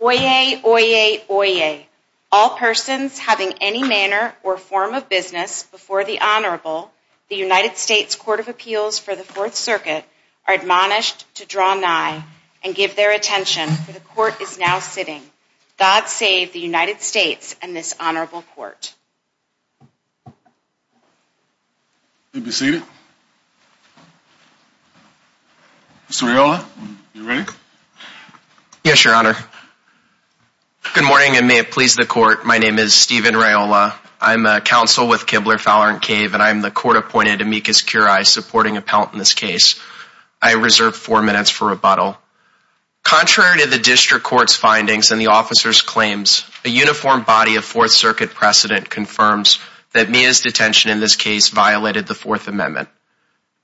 Oyez, Oyez, Oyez. All persons having any manner or form of business before the Honorable, the United States Court of Appeals for the Fourth Circuit, are admonished to draw nigh and give their attention, for the Court is now sitting. God save the United States and this Honorable Court. You may be seated. Mr. Raiola, are you ready? Yes, Your Honor. Good morning and may it please the Court. My name is Stephen Raiola. I'm a counsel with Kibler, Fowler & Cave, and I'm the court-appointed amicus curiae supporting appellant in this case. I reserve four minutes for rebuttal. Contrary to the District Court's findings and the officer's claims, a uniform body of Fourth Circuit precedent confirms that Mia's detention in this case violated the Fourth Amendment.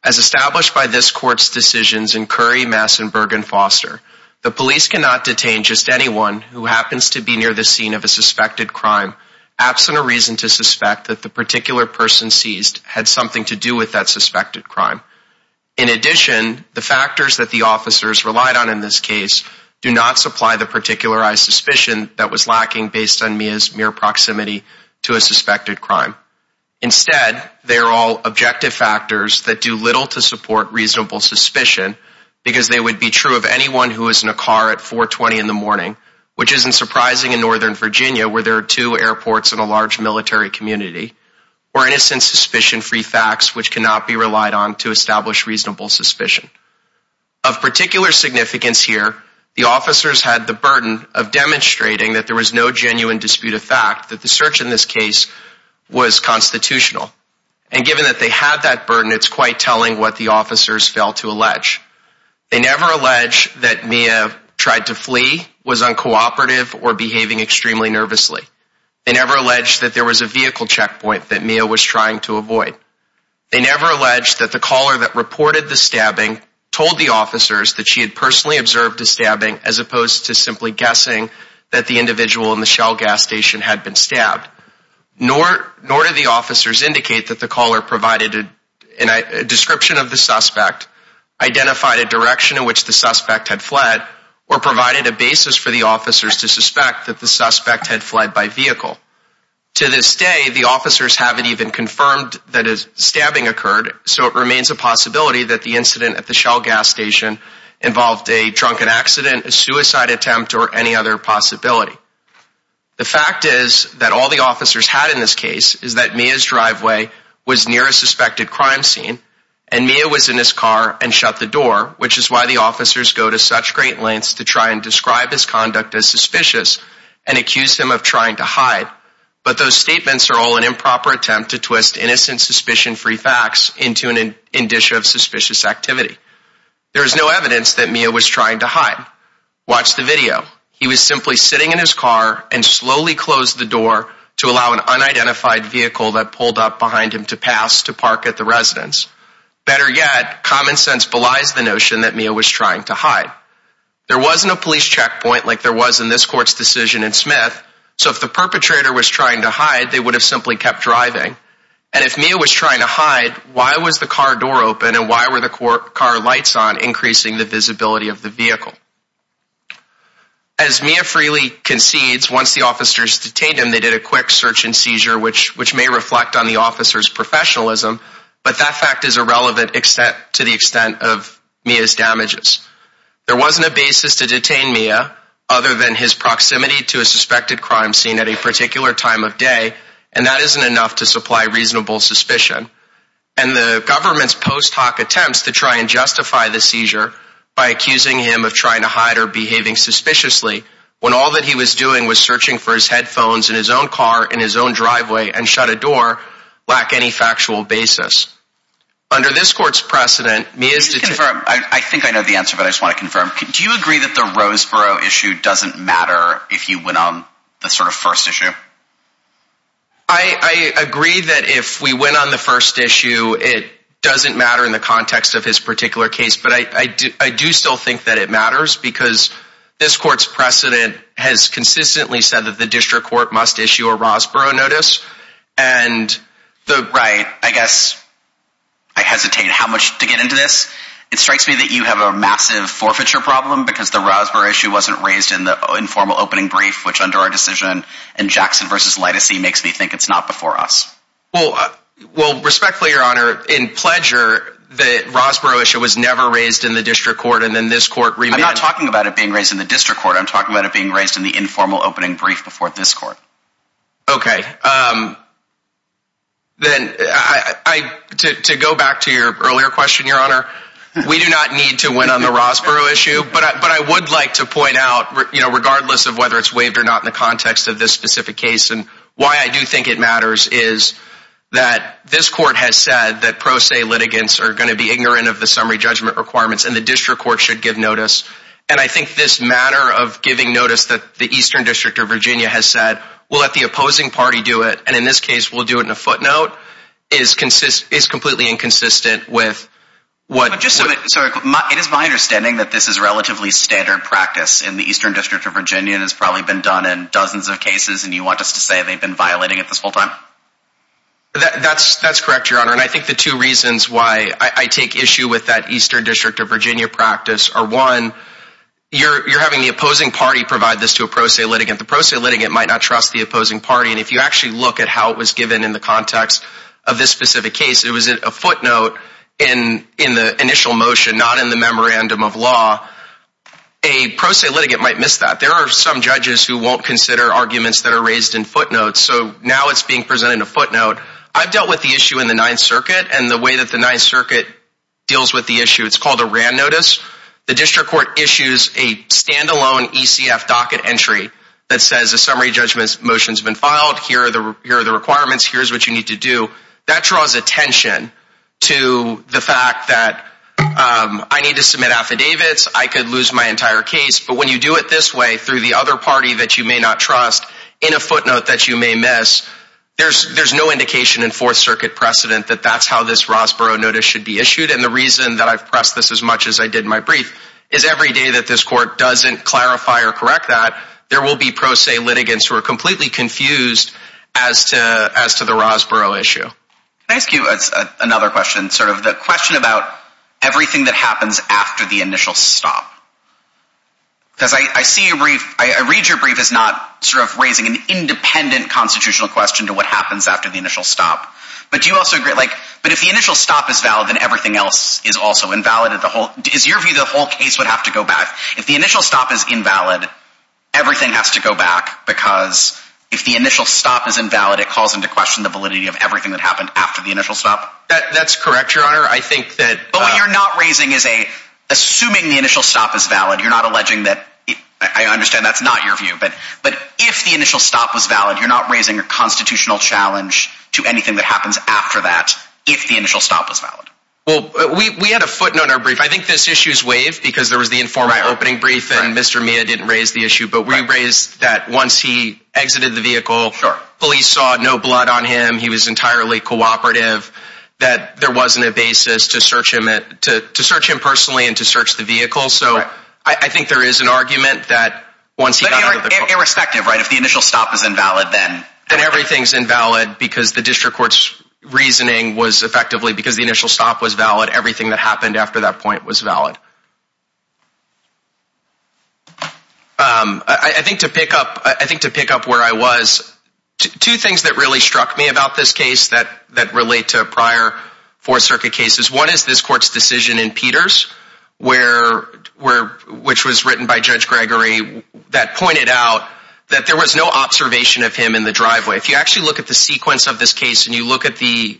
As established by this Court's decisions in Curry, Mass and Bergen-Foster, the police cannot detain just anyone who happens to be near the scene of a suspected crime, absent a reason to suspect that the particular person seized had something to do with that suspected crime. In addition, the factors that the officers relied on in this case do not supply the particularized suspicion that was lacking based on Mia's mere proximity to a suspected crime. Instead, they are all objective factors that do little to support reasonable suspicion, because they would be true of anyone who was in a car at 4.20 in the morning, which isn't surprising in Northern Virginia where there are two airports and a large military community, or innocent suspicion-free facts which cannot be relied on to establish reasonable suspicion. Of particular significance here, the officers had the burden of demonstrating that there was no genuine dispute of fact, that the search in this case was constitutional. And given that they had that burden, it's quite telling what the officers failed to allege. They never allege that Mia tried to flee, was uncooperative, or behaving extremely nervously. They never allege that there was a vehicle checkpoint that Mia was trying to avoid. They never allege that the caller that reported the stabbing told the officers that she had personally observed a stabbing, as opposed to simply guessing that the individual in the Shell gas station had been stabbed. Nor did the officers indicate that the caller provided a description of the suspect, or provided a basis for the officers to suspect that the suspect had fled by vehicle. To this day, the officers haven't even confirmed that a stabbing occurred, so it remains a possibility that the incident at the Shell gas station involved a drunken accident, a suicide attempt, or any other possibility. The fact is that all the officers had in this case is that Mia's driveway was near a suspected crime scene, and Mia was in his car and shut the door, which is why the officers go to such great lengths to try and describe his conduct as suspicious, and accuse him of trying to hide. But those statements are all an improper attempt to twist innocent suspicion-free facts into an indicia of suspicious activity. There is no evidence that Mia was trying to hide. Watch the video. He was simply sitting in his car and slowly closed the door to allow an unidentified vehicle that pulled up behind him to pass to park at the residence. Better yet, common sense belies the notion that Mia was trying to hide. There wasn't a police checkpoint like there was in this court's decision in Smith, so if the perpetrator was trying to hide, they would have simply kept driving. And if Mia was trying to hide, why was the car door open, and why were the car lights on, increasing the visibility of the vehicle? As Mia freely concedes, once the officers detained him, they did a quick search and seizure, which may reflect on the officer's professionalism, but that fact is irrelevant to the extent of Mia's damages. There wasn't a basis to detain Mia, other than his proximity to a suspected crime scene at a particular time of day, and that isn't enough to supply reasonable suspicion. And the government's post-hoc attempts to try and justify the seizure by accusing him of trying to hide or behaving suspiciously, when all that he was doing was searching for his headphones in his own car, in his own driveway, and shut a door, lack any factual basis. Under this court's precedent, Mia's deta- Can you confirm? I think I know the answer, but I just want to confirm. Do you agree that the Roseboro issue doesn't matter if you went on the sort of first issue? I agree that if we went on the first issue, it doesn't matter in the context of his particular case, but I do still think that it matters, because this court's precedent has consistently said that the district court must issue a Roseboro notice, and the- Right, I guess I hesitate how much to get into this. It strikes me that you have a massive forfeiture problem, because the Roseboro issue wasn't raised in the informal opening brief, which under our decision, in Jackson v. Litesee, makes me think it's not before us. Well, respectfully, Your Honor, in Pledger, the Roseboro issue was never raised in the district court, and then this court- I'm not talking about it being raised in the district court, I'm talking about it being raised in the informal opening brief before this court. Okay. Then, to go back to your earlier question, Your Honor, we do not need to win on the Roseboro issue, but I would like to point out, regardless of whether it's waived or not in the context of this specific case, and why I do think it matters is that this court has said that pro se litigants are going to be ignorant of the summary judgment requirements, and the district court should give notice, and I think this manner of giving notice that the Eastern District of Virginia has said, we'll let the opposing party do it, and in this case, we'll do it in a footnote, is completely inconsistent with what- It is my understanding that this is relatively standard practice in the Eastern District of Virginia, and has probably been done in dozens of cases, and you want us to say they've been violating it this whole time? That's correct, Your Honor, and I think the two reasons why I take issue with that Eastern District of Virginia practice are, one, you're having the opposing party provide this to a pro se litigant, the pro se litigant might not trust the opposing party, and if you actually look at how it was given in the context of this specific case, it was a footnote in the initial motion, not in the memorandum of law, a pro se litigant might miss that. There are some judges who won't consider arguments that are raised in footnotes, so now it's being presented in a footnote. I've dealt with the issue in the Ninth Circuit, and the way that the Ninth Circuit deals with the issue, it's called a RAND notice. The district court issues a standalone ECF docket entry that says a summary judgment motion's been filed, here are the requirements, here's what you need to do. That draws attention to the fact that I need to submit affidavits, I could lose my entire case, but when you do it this way, through the other party that you may not trust, in a footnote that you may miss, there's no indication in Fourth Circuit precedent that that's how this Rosborough notice should be issued, and the reason that I've pressed this as much as I did in my brief is every day that this court doesn't clarify or correct that, there will be pro se litigants who are completely confused as to the Rosborough issue. Can I ask you another question? Sort of the question about everything that happens after the initial stop. Because I see your brief, I read your brief as not sort of raising an independent constitutional question to what happens after the initial stop. But do you also agree, like, but if the initial stop is valid, then everything else is also invalid, is your view the whole case would have to go back? If the initial stop is invalid, everything has to go back, because if the initial stop is invalid, it calls into question the validity of everything that happened after the initial stop? That's correct, Your Honor, I think that... But what you're not raising is a, assuming the initial stop is valid, you're not alleging that, I understand that's not your view, but if the initial stop was valid, you're not raising a constitutional challenge to anything that happens after that, if the initial stop was valid? Well, we had a footnote in our brief, I think this issue is waived, because there was the informal opening brief, and Mr. Mia didn't raise the issue, but we raised that once he exited the vehicle, police saw no blood on him, he was entirely cooperative, that there wasn't a basis to search him, to search him personally and to search the vehicle, so I think there is an argument that once he got out of the car... But irrespective, right, if the initial stop is invalid, then... Then everything's invalid, because the district court's reasoning was effectively, because the initial stop was valid, everything that happened after that point was valid. I think to pick up where I was, two things that really struck me about this case that relate to prior Fourth Circuit cases. One is this court's decision in Peters, which was written by Judge Gregory, that pointed out that there was no observation of him in the driveway. If you actually look at the sequence of this case, and you look at the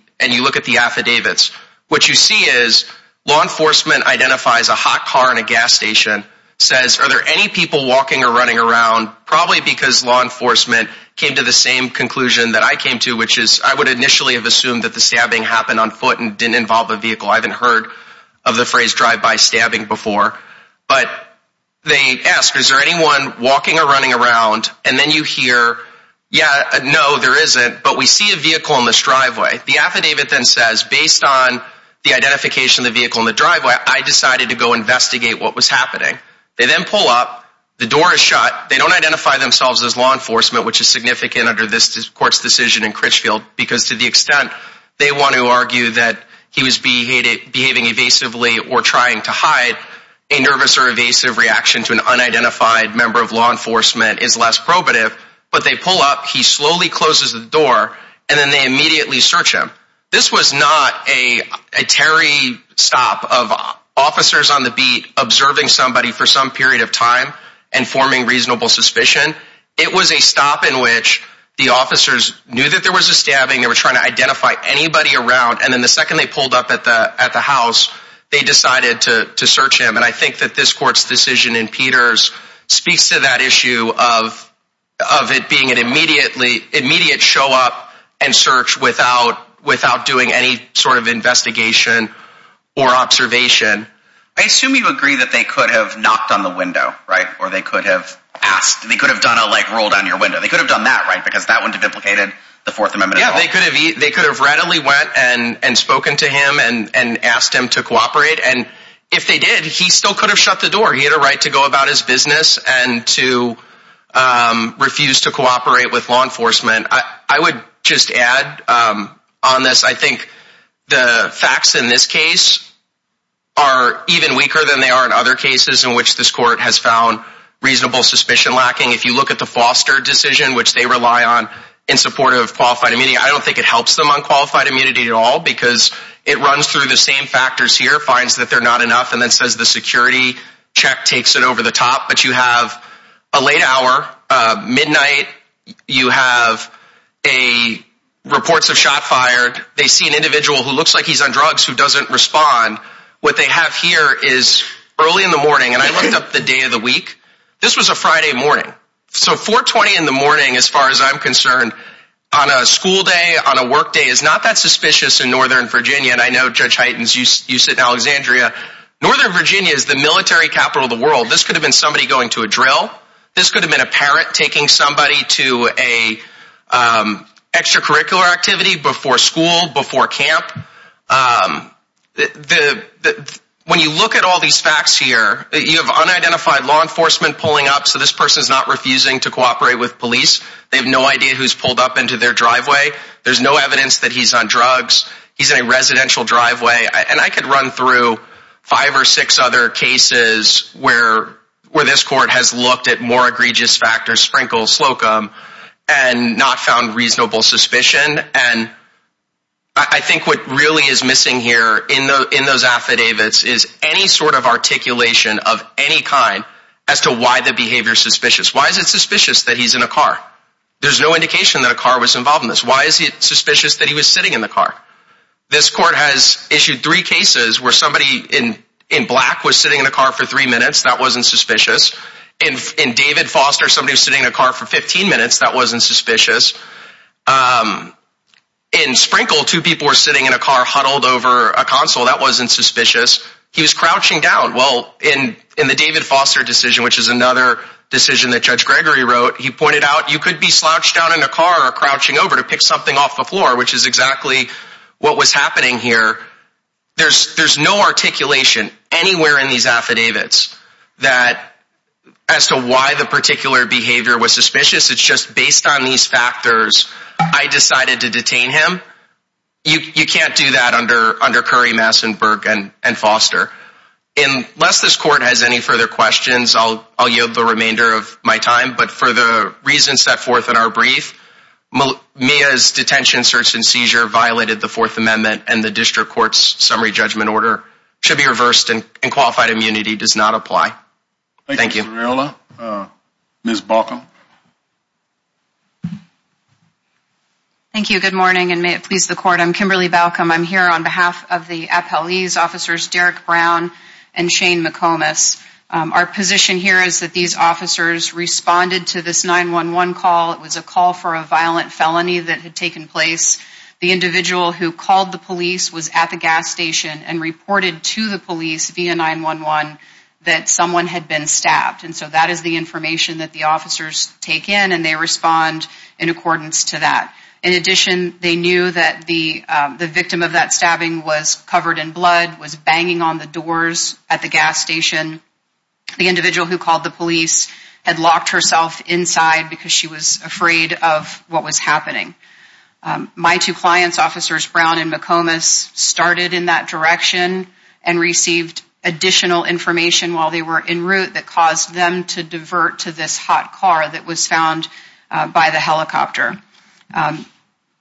affidavits, what you see is, law enforcement identifies a hot car in a gas station, says, are there any people walking or running around, probably because law enforcement came to the same conclusion that I came to, which is, I would initially have assumed that the stabbing happened on foot and didn't involve a vehicle, I haven't heard of the phrase drive-by stabbing before, but they ask, is there anyone walking or running around, and then you hear, yeah, no, there isn't, but we see a vehicle in this driveway. The affidavit then says, based on the identification of the vehicle in the driveway, I decided to go investigate what was happening. They then pull up, the door is shut, they don't identify themselves as law enforcement, which is significant under this court's decision in Critchfield, because to the extent they want to argue that he was behaving evasively or trying to hide a nervous or evasive reaction to an unidentified member of law enforcement is less probative, but they pull up, he slowly closes the door, and then they immediately search him. This was not a Terry stop of officers on the beat observing somebody for some period of time and forming reasonable suspicion. It was a stop in which the officers knew that there was a stabbing, they were trying to identify anybody around, and then the second they pulled up at the house, they decided to search him, and I think that this court's decision in Peters speaks to that issue of it being an immediate show up and search without doing any sort of investigation or observation. I assume you agree that they could have knocked on the window, right? Or they could have asked, they could have done a roll down your window. They could have done that, right? Because that wouldn't have implicated the Fourth Amendment at all. Yeah, they could have readily went and spoken to him and asked him to cooperate, and if they did, he still could have shut the door. He had a right to go about his business and to refuse to cooperate with law enforcement. I would just add on this, I think the facts in this case are even weaker than they are in other cases in which this court has found reasonable suspicion lacking. If you look at the Foster decision, which they rely on in support of qualified immunity, I don't think it helps them on qualified immunity at all because it runs through the same factors here, finds that they're not enough, and then says the security check takes it over the top. But you have a late hour, midnight, you have reports of shot fired, they see an individual who looks like he's on drugs who doesn't respond. What they have here is early in the morning, and I looked up the day of the week, this was a Friday morning. So 4.20 in the morning, as far as I'm concerned, on a school day, on a work day, is not that suspicious in Northern Virginia. And I know, Judge Heitens, you sit in Alexandria. Northern Virginia is the military capital of the world. This could have been somebody going to a drill. This could have been a parent taking somebody to an extracurricular activity before school, before camp. When you look at all these facts here, you have unidentified law enforcement pulling up, so this person's not refusing to cooperate with police. They have no idea who's pulled up into their driveway. There's no evidence that he's on drugs. He's in a residential driveway. And I could run through five or six other cases where this court has looked at more egregious factors, Sprinkle, Slocum, and not found reasonable suspicion. And I think what really is missing here in those affidavits is any sort of articulation of any kind as to why the behavior is suspicious. Why is it suspicious that he's in a car? There's no indication that a car was involved in this. Why is it suspicious that he was sitting in the car? This court has issued three cases where somebody in black was sitting in a car for three minutes. That wasn't suspicious. In David Foster, somebody was sitting in a car for 15 minutes. That wasn't suspicious. In Sprinkle, two people were sitting in a car huddled over a console. That wasn't suspicious. He was crouching down. Well, in the David Foster decision, which is another decision that Judge Gregory wrote, he pointed out you could be slouched down in a car or crouching over to pick something off the floor, which is exactly what was happening here. There's no articulation anywhere in these affidavits as to why the particular behavior was suspicious. It's just based on these factors, I decided to detain him. You can't do that under Curry, Massenburg, and Foster. Unless this court has any further questions, I'll yield the remainder of my time. But for the reasons set forth in our brief, Mia's detention, search, and seizure violated the Fourth Amendment and the District Court's summary judgment order should be reversed and qualified immunity does not apply. Thank you, Mr. Riola. Ms. Balcom. Thank you. Good morning, and may it please the Court. I'm Kimberly Balcom. I'm here on behalf of the appellee's officers, Derek Brown and Shane McComas. Our position here is that these officers responded to this 911 call. It was a call for a violent felony that had taken place. The individual who called the police was at the gas station and reported to the police via 911 that someone had been stabbed. And so that is the information that the officers take in, and they respond in accordance to that. In addition, they knew that the victim of that stabbing was covered in blood, was banging on the doors at the gas station. The individual who called the police had locked herself inside because she was afraid of what was happening. My two clients, officers Brown and McComas, started in that direction and received additional information while they were en route that caused them to divert to this hot car that was found by the helicopter.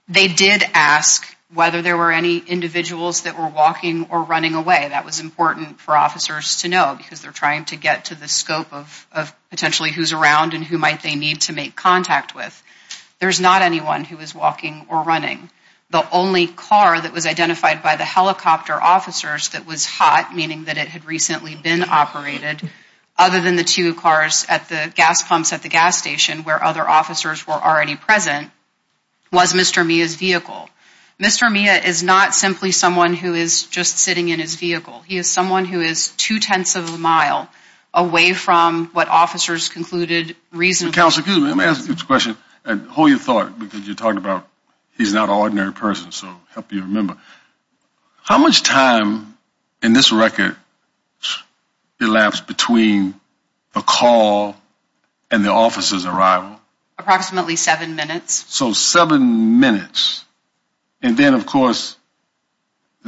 They did ask whether there were any individuals that were walking or running away. That was important for officers to know because they're trying to get to the scope of potentially who's around and who might they need to make contact with. There's not anyone who was walking or running. The only car that was identified by the helicopter officers that was hot, meaning that it had recently been operated, other than the two cars at the gas pumps at the gas station where other officers were already present, was Mr. Mia's vehicle. Mr. Mia is not simply someone who is just sitting in his vehicle. He is someone who is two-tenths of a mile away from what officers concluded reasonably. Counsel, excuse me, let me ask you this question and hold your thought because you're talking about he's not an ordinary person, so help you remember. How much time in this record elapsed between the call and the officer's arrival? Approximately seven minutes. So seven minutes. And then, of course,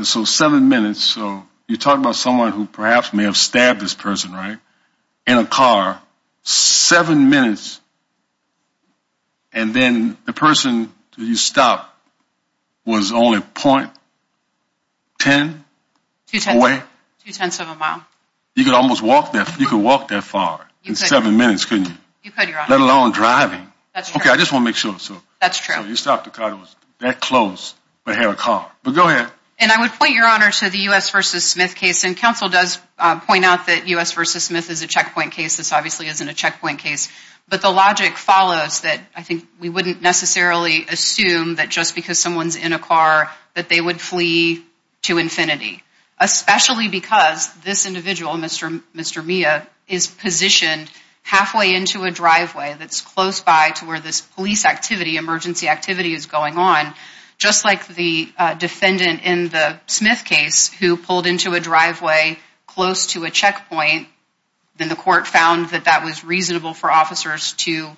so seven minutes, so you're talking about someone who perhaps may have stabbed this person, right, in a car. Seven minutes, and then the person you stopped was only 0.10 away? Two-tenths of a mile. You could almost walk that far in seven minutes, couldn't you? You could, Your Honor. Let alone driving. Okay, I just want to make sure. That's true. So you stopped a car that was that close but had a car. But go ahead. And I would point, Your Honor, to the U.S. v. Smith case. And counsel does point out that U.S. v. Smith is a checkpoint case. This obviously isn't a checkpoint case. But the logic follows that I think we wouldn't necessarily assume that just because someone's in a car that they would flee to infinity, especially because this individual, Mr. Mia, is positioned halfway into a driveway that's close by to where this police activity, emergency activity is going on, just like the defendant in the Smith case who pulled into a driveway close to a checkpoint, then the court found that that was reasonable for officers to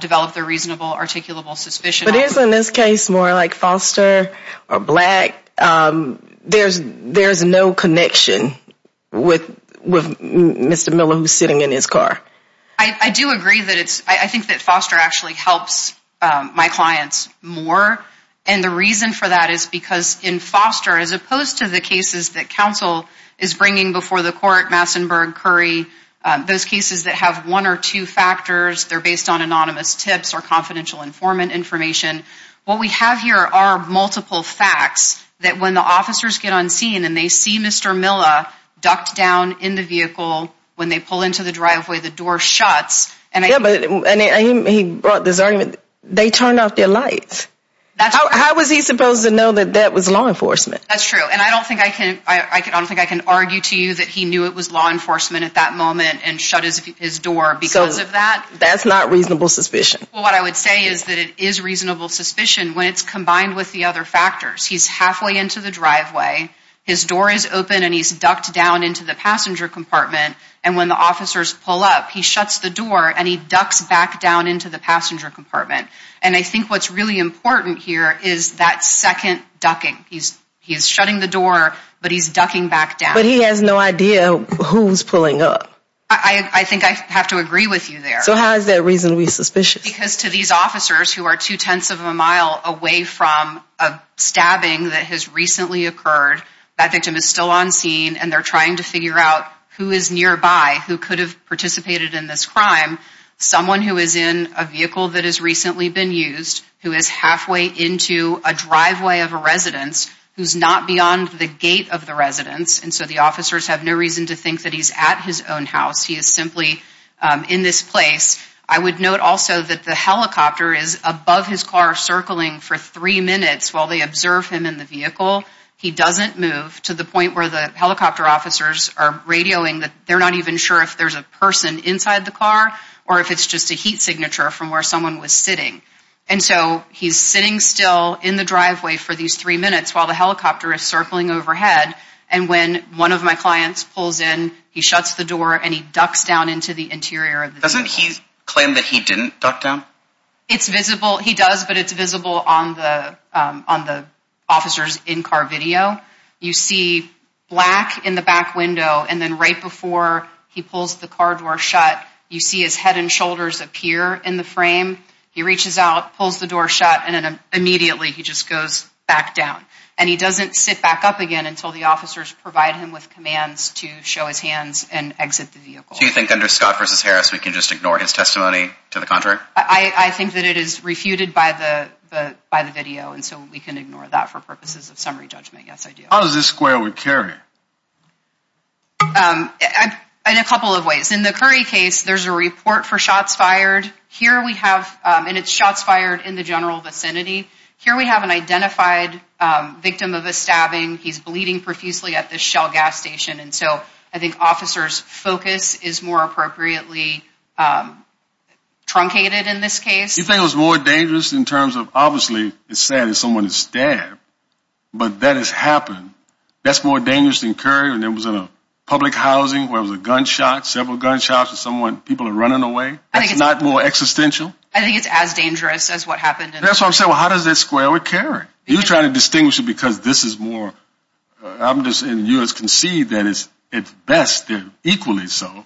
develop their reasonable articulable suspicion. But isn't this case more like Foster or Black? There's no connection with Mr. Miller who's sitting in his car. I do agree that it's – I think that Foster actually helps my clients more. And the reason for that is because in Foster, as opposed to the cases that counsel is bringing before the court, Massenburg, Curry, those cases that have one or two factors, they're based on anonymous tips or confidential informant information, what we have here are multiple facts that when the officers get on scene and they see Mr. Miller ducked down in the vehicle, when they pull into the driveway, the door shuts. Yeah, but he brought this argument, they turned off their lights. How was he supposed to know that that was law enforcement? That's true. And I don't think I can argue to you that he knew it was law enforcement at that moment and shut his door because of that. So that's not reasonable suspicion. Well, what I would say is that it is reasonable suspicion when it's combined with the other factors. He's halfway into the driveway, his door is open and he's ducked down into the passenger compartment, and when the officers pull up, he shuts the door and he ducks back down into the passenger compartment. And I think what's really important here is that second ducking. He's shutting the door, but he's ducking back down. But he has no idea who's pulling up. I think I have to agree with you there. So how is that reasonably suspicious? Because to these officers who are two-tenths of a mile away from a stabbing that has recently occurred, that victim is still on scene and they're trying to figure out who is nearby, who could have participated in this crime. Someone who is in a vehicle that has recently been used, who is halfway into a driveway of a residence, who's not beyond the gate of the residence, and so the officers have no reason to think that he's at his own house. He is simply in this place. I would note also that the helicopter is above his car circling for three minutes while they observe him in the vehicle. He doesn't move to the point where the helicopter officers are radioing that they're not even sure if there's a person inside the car or if it's just a heat signature from where someone was sitting. And so he's sitting still in the driveway for these three minutes while the helicopter is circling overhead, and when one of my clients pulls in, he shuts the door and he ducks down into the interior of the vehicle. Does he claim that he didn't duck down? It's visible. He does, but it's visible on the officers' in-car video. You see black in the back window, and then right before he pulls the car door shut, you see his head and shoulders appear in the frame. He reaches out, pulls the door shut, and then immediately he just goes back down. And he doesn't sit back up again until the officers provide him with commands to show his hands and exit the vehicle. Do you think under Scott v. Harris we can just ignore his testimony to the contrary? I think that it is refuted by the video, and so we can ignore that for purposes of summary judgment. Yes, I do. How does this square with Curry? In a couple of ways. In the Curry case, there's a report for shots fired. Here we have, and it's shots fired in the general vicinity. Here we have an identified victim of a stabbing. He's bleeding profusely at the Shell gas station, and so I think officers' focus is more appropriately truncated in this case. You think it was more dangerous in terms of, obviously, it's sad that someone is stabbed, but that has happened. That's more dangerous than Curry when it was in a public housing where it was a gunshot, several gunshots, and people are running away? That's not more existential? I think it's as dangerous as what happened in the Curry. That's what I'm saying. How does that square with Curry? You're trying to distinguish it because this is more, I'm just, and you can see that it's best equally so.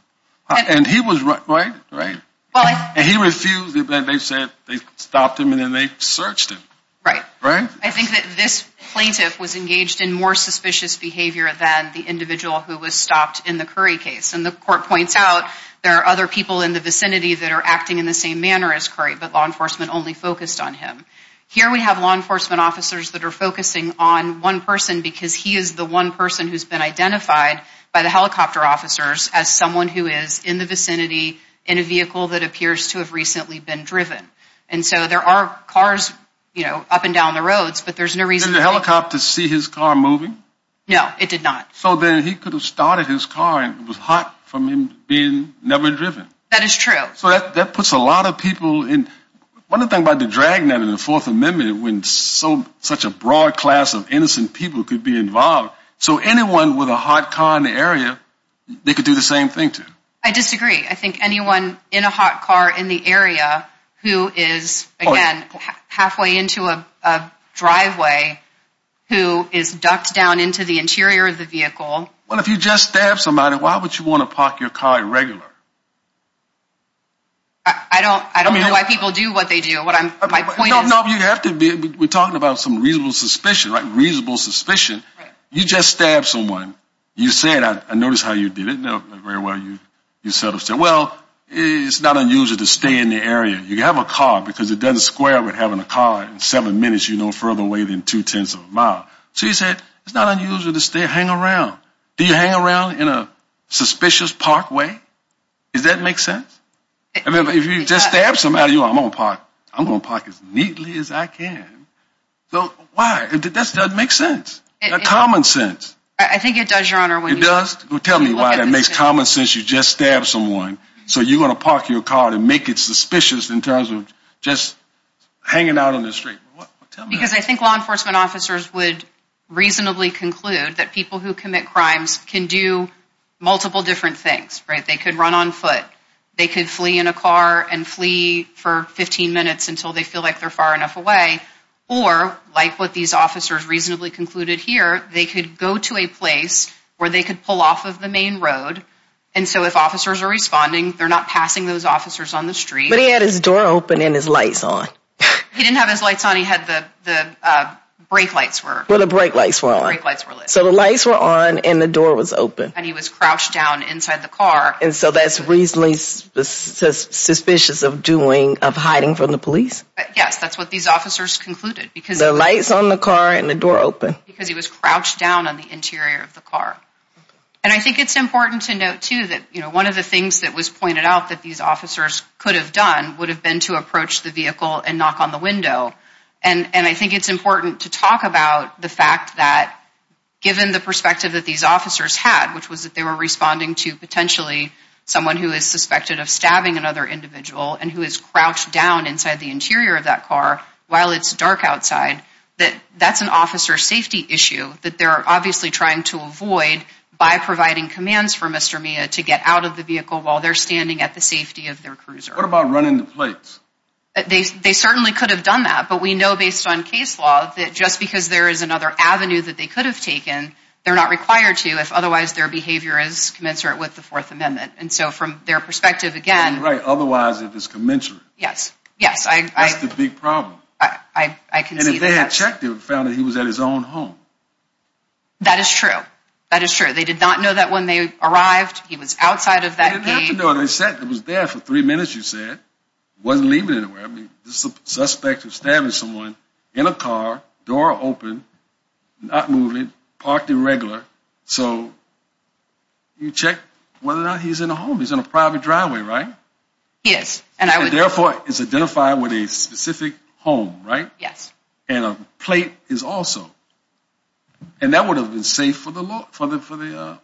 And he was, right? Right. And he refused it, but they said they stopped him, and then they searched him. Right. I think that this plaintiff was engaged in more suspicious behavior than the individual who was stopped in the Curry case, and the court points out there are other people in the vicinity that are acting in the same manner as Curry, but law enforcement only focused on him. Here we have law enforcement officers that are focusing on one person because he is the one person who's been identified by the helicopter officers as someone who is in the vicinity in a vehicle that appears to have recently been driven. And so there are cars, you know, up and down the roads, but there's no reason to... Did the helicopter see his car moving? No, it did not. So then he could have started his car, and it was hot from him being never driven. That is true. So that puts a lot of people in... One of the things about the drag net in the Fourth Amendment when such a broad class of innocent people could be involved, so anyone with a hot car in the area, they could do the same thing to. I disagree. I think anyone in a hot car in the area who is, again, halfway into a driveway, who is ducked down into the interior of the vehicle... I don't know why people do what they do. My point is... No, you have to be... We're talking about some reasonable suspicion, right? Reasonable suspicion. You just stabbed someone. You say that. I noticed how you did it. Very well, you sort of said, well, it's not unusual to stay in the area. You have a car because it doesn't square with having a car. In seven minutes, you're no further away than two-tenths of a mile. So you said, it's not unusual to stay, hang around. Do you hang around in a suspicious park way? Does that make sense? If you just stabbed somebody, I'm going to park as neatly as I can. Why? That doesn't make sense. That's common sense. I think it does, Your Honor. It does? Tell me why that makes common sense. You just stabbed someone, so you're going to park your car and make it suspicious in terms of just hanging out on the street. Because I think law enforcement officers would reasonably conclude that people who commit crimes can do multiple different things. They could run on foot. They could flee in a car and flee for 15 minutes until they feel like they're far enough away. Or, like what these officers reasonably concluded here, they could go to a place where they could pull off of the main road, and so if officers are responding, they're not passing those officers on the street. But he had his door open and his lights on. He didn't have his lights on. He had the brake lights were on. Well, the brake lights were on. The brake lights were lit. So the lights were on and the door was open. And he was crouched down inside the car. And so that's reasonably suspicious of hiding from the police? Yes, that's what these officers concluded. The lights on the car and the door open? Because he was crouched down on the interior of the car. And I think it's important to note, too, that one of the things that was pointed out that these officers could have done would have been to approach the vehicle and knock on the window. And I think it's important to talk about the fact that, given the perspective that these officers had, which was that they were responding to potentially someone who is suspected of stabbing another individual and who is crouched down inside the interior of that car while it's dark outside, that that's an officer safety issue that they're obviously trying to avoid by providing commands for Mr. Mia to get out of the vehicle while they're standing at the safety of their cruiser. What about running the plates? They certainly could have done that, but we know based on case law that just because there is another avenue that they could have taken, they're not required to if otherwise their behavior is commensurate with the Fourth Amendment. And so from their perspective, again... Right, otherwise it is commensurate. Yes, yes. That's the big problem. I can see that. And if they had checked it and found that he was at his own home. That is true. That is true. They did not know that when they arrived, he was outside of that gate. They didn't have to know. They said he was there for three minutes, you said. He wasn't leaving anywhere. I mean, this is a suspect who stabbed someone in a car, door open, not moving, parked irregular. So you check whether or not he's in a home. He's in a private driveway, right? He is. And therefore it's identified with a specific home, right? Yes. And a plate is also. And that would have been safe for the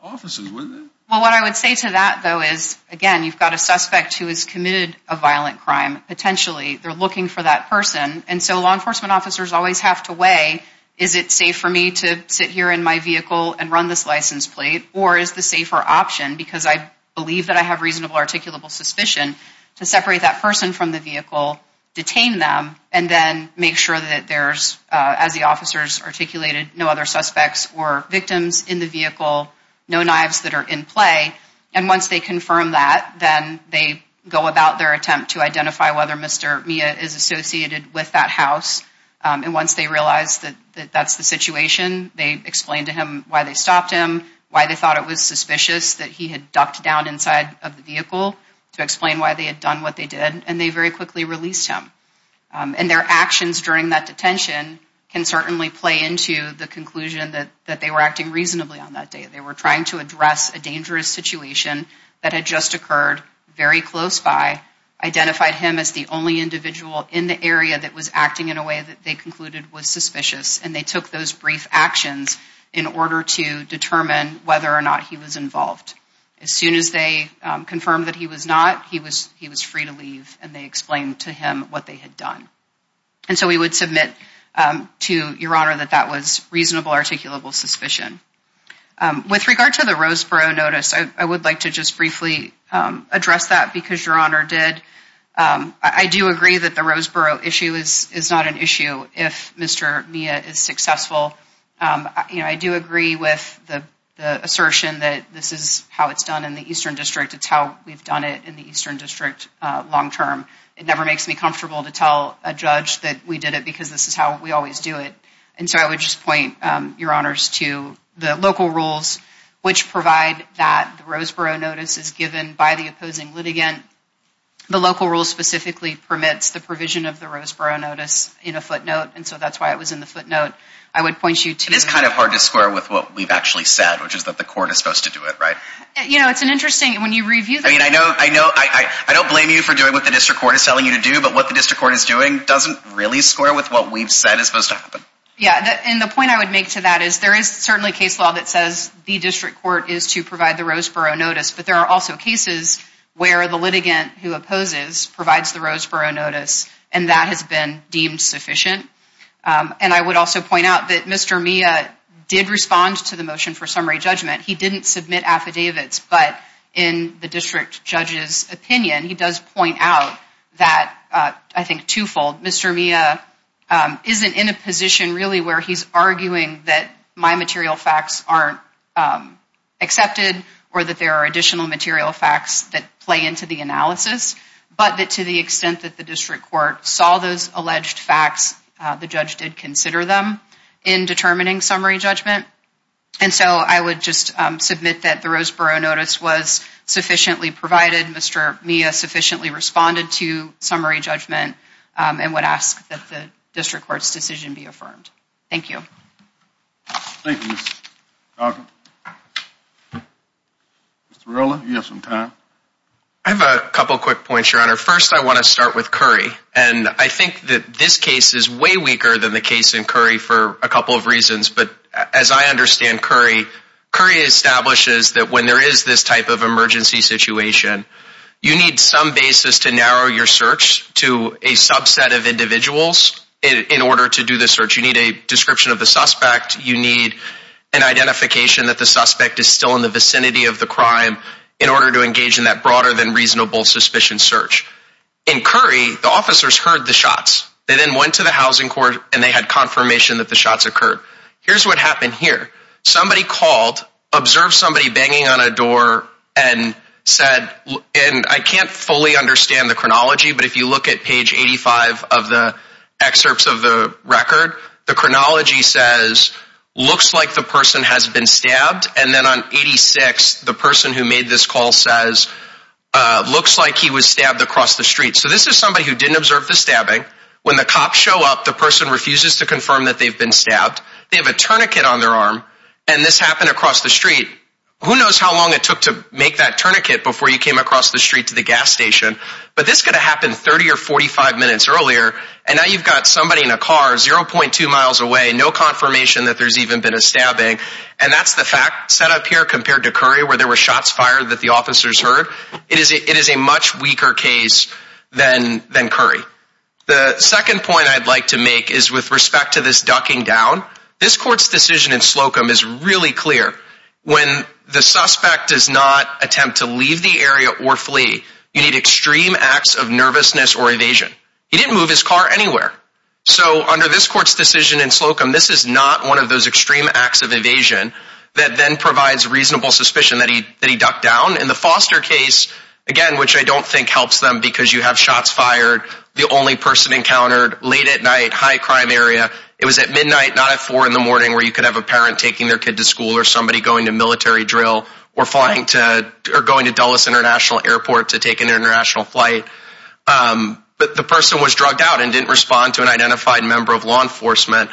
officers, wouldn't it? Well, what I would say to that, though, is, again, you've got a suspect who has committed a violent crime, potentially they're looking for that person. And so law enforcement officers always have to weigh, is it safe for me to sit here in my vehicle and run this license plate? Or is the safer option, because I believe that I have reasonable articulable suspicion, to separate that person from the vehicle, detain them, and then make sure that there's, as the officers articulated, no other suspects or victims in the vehicle, no knives that are in play. And once they confirm that, then they go about their attempt to identify whether Mr. Mia is associated with that house. And once they realize that that's the situation, they explain to him why they stopped him, why they thought it was suspicious that he had ducked down inside of the vehicle, to explain why they had done what they did. And they very quickly released him. And their actions during that detention can certainly play into the conclusion that they were acting reasonably on that day. They were trying to address a dangerous situation that had just occurred very close by, identified him as the only individual in the area that was acting in a way that they concluded was suspicious, and they took those brief actions in order to determine whether or not he was involved. As soon as they confirmed that he was not, he was free to leave, and they explained to him what they had done. And so we would submit to Your Honor that that was reasonable articulable suspicion. With regard to the Roseboro notice, I would like to just briefly address that because Your Honor did. I do agree that the Roseboro issue is not an issue if Mr. Mia is successful. I do agree with the assertion that this is how it's done in the Eastern District. It's how we've done it in the Eastern District long term. It never makes me comfortable to tell a judge that we did it because this is how we always do it. And so I would just point, Your Honors, to the local rules, which provide that the Roseboro notice is given by the opposing litigant. The local rule specifically permits the provision of the Roseboro notice in a footnote, and so that's why it was in the footnote. I would point you to— It is kind of hard to square with what we've actually said, which is that the court is supposed to do it, right? You know, it's an interesting—when you review the— I mean, I know—I don't blame you for doing what the district court is telling you to do, but what the district court is doing doesn't really square with what we've said is supposed to happen. Yeah, and the point I would make to that is there is certainly case law that says the district court is to provide the Roseboro notice, but there are also cases where the litigant who opposes provides the Roseboro notice, and that has been deemed sufficient. And I would also point out that Mr. Mia did respond to the motion for summary judgment. He didn't submit affidavits, but in the district judge's opinion, he does point out that—I think twofold— Mr. Mia isn't in a position really where he's arguing that my material facts aren't accepted or that there are additional material facts that play into the analysis, but that to the extent that the district court saw those alleged facts, the judge did consider them in determining summary judgment. And so I would just submit that the Roseboro notice was sufficiently provided. Mr. Mia sufficiently responded to summary judgment and would ask that the district court's decision be affirmed. Thank you. Thank you, Ms. Dahlgren. Mr. Rowland, you have some time. I have a couple quick points, Your Honor. First, I want to start with Curry, and I think that this case is way weaker than the case in Curry for a couple of reasons, but as I understand Curry, Curry establishes that when there is this type of emergency situation, you need some basis to narrow your search to a subset of individuals in order to do the search. You need a description of the suspect. You need an identification that the suspect is still in the vicinity of the crime in order to engage in that broader than reasonable suspicion search. In Curry, the officers heard the shots. They then went to the housing court, and they had confirmation that the shots occurred. Here's what happened here. Somebody called, observed somebody banging on a door, and said, and I can't fully understand the chronology, but if you look at page 85 of the excerpts of the record, the chronology says, looks like the person has been stabbed, and then on 86, the person who made this call says, looks like he was stabbed across the street. So this is somebody who didn't observe the stabbing. When the cops show up, the person refuses to confirm that they've been stabbed. They have a tourniquet on their arm, and this happened across the street. Who knows how long it took to make that tourniquet before you came across the street to the gas station, but this could have happened 30 or 45 minutes earlier, and now you've got somebody in a car 0.2 miles away, no confirmation that there's even been a stabbing, and that's the fact set up here compared to Curry where there were shots fired that the officers heard. It is a much weaker case than Curry. The second point I'd like to make is with respect to this ducking down. This court's decision in Slocum is really clear. When the suspect does not attempt to leave the area or flee, you need extreme acts of nervousness or evasion. He didn't move his car anywhere. So under this court's decision in Slocum, this is not one of those extreme acts of evasion that then provides reasonable suspicion that he ducked down. In the Foster case, again, which I don't think helps them because you have shots fired, the only person encountered, late at night, high crime area. It was at midnight, not at 4 in the morning, where you could have a parent taking their kid to school or somebody going to military drill or going to Dulles International Airport to take an international flight. But the person was drugged out and didn't respond to an identified member of law enforcement.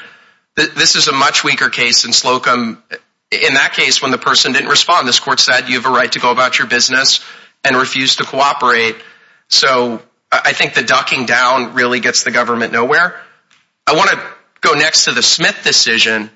This is a much weaker case in Slocum. In that case, when the person didn't respond, this court said you have a right to go about your business and refused to cooperate. So I think the ducking down really gets the government nowhere. I want to go next to the Smith decision.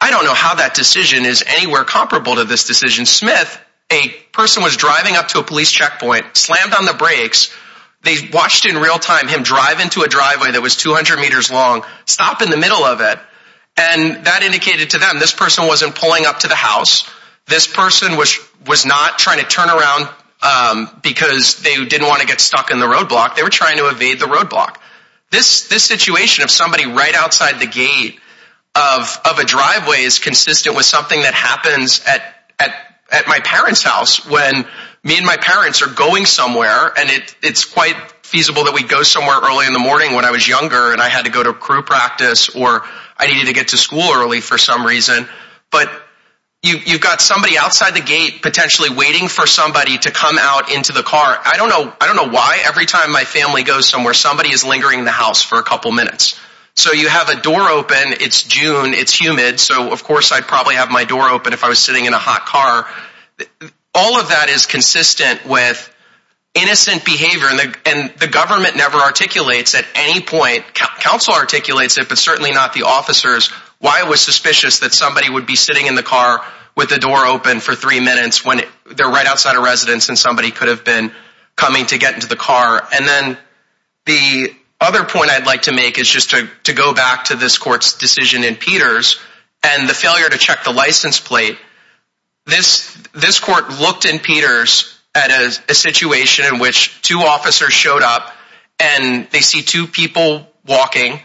I don't know how that decision is anywhere comparable to this decision. Smith, a person was driving up to a police checkpoint, slammed on the brakes. They watched in real time him drive into a driveway that was 200 meters long, stop in the middle of it. And that indicated to them this person wasn't pulling up to the house. This person was not trying to turn around because they didn't want to get stuck in the roadblock. They were trying to evade the roadblock. This situation of somebody right outside the gate of a driveway is consistent with something that happens at my parents' house when me and my parents are going somewhere. And it's quite feasible that we'd go somewhere early in the morning when I was younger and I had to go to crew practice or I needed to get to school early for some reason. But you've got somebody outside the gate potentially waiting for somebody to come out into the car. I don't know why every time my family goes somewhere somebody is lingering in the house for a couple minutes. So you have a door open, it's June, it's humid, so of course I'd probably have my door open if I was sitting in a hot car. All of that is consistent with innocent behavior. And the government never articulates at any point, counsel articulates it, but certainly not the officers, why it was suspicious that somebody would be sitting in the car with the door open for three minutes when they're right outside a residence and somebody could have been coming to get into the car. And then the other point I'd like to make is just to go back to this court's decision in Peters and the failure to check the license plate. This court looked in Peters at a situation in which two officers showed up and they see two people walking,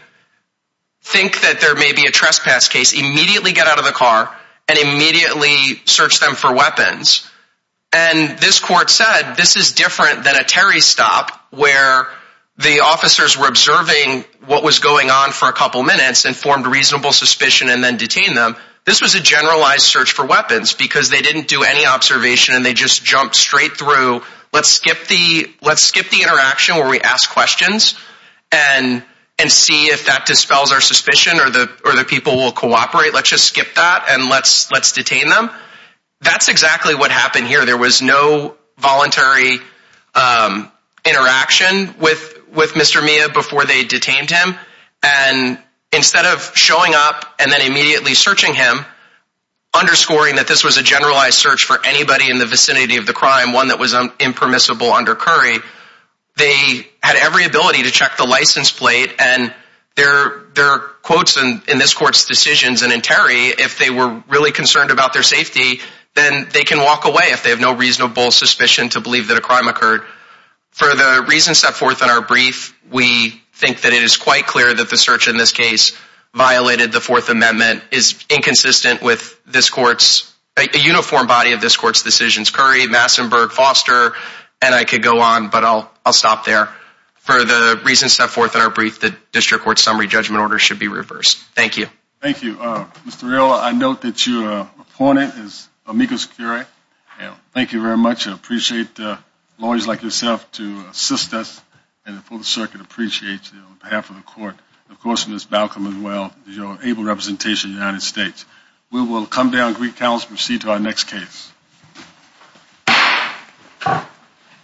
think that there may be a trespass case, immediately get out of the car and immediately search them for weapons. And this court said this is different than a Terry stop where the officers were observing what was going on for a couple minutes and formed reasonable suspicion and then detained them. This was a generalized search for weapons because they didn't do any observation and they just jumped straight through let's skip the interaction where we ask questions and see if that dispels our suspicion or the people will cooperate. Let's just skip that and let's detain them. That's exactly what happened here. There was no voluntary interaction with Mr. Mia before they detained him. And instead of showing up and then immediately searching him, underscoring that this was a generalized search for anybody in the vicinity of the crime, one that was impermissible under Curry, they had every ability to check the license plate and there are quotes in this court's decisions and in Terry, if they were really concerned about their safety, then they can walk away if they have no reasonable suspicion to believe that a crime occurred. For the reasons set forth in our brief, we think that it is quite clear that the search in this case violated the Fourth Amendment, is inconsistent with this court's, a uniform body of this court's decisions, Curry, Massenburg, Foster, and I could go on, but I'll stop there. For the reasons set forth in our brief, the district court's summary judgment order should be reversed. Thank you. Thank you. Mr. Real, I note that your opponent is Amicus Curry. Thank you very much. I appreciate lawyers like yourself to assist us and the full circuit appreciates you on behalf of the court. Of course, Ms. Balcom as well, your able representation in the United States. We will come down, greet counsel, and proceed to our next case. Thank you.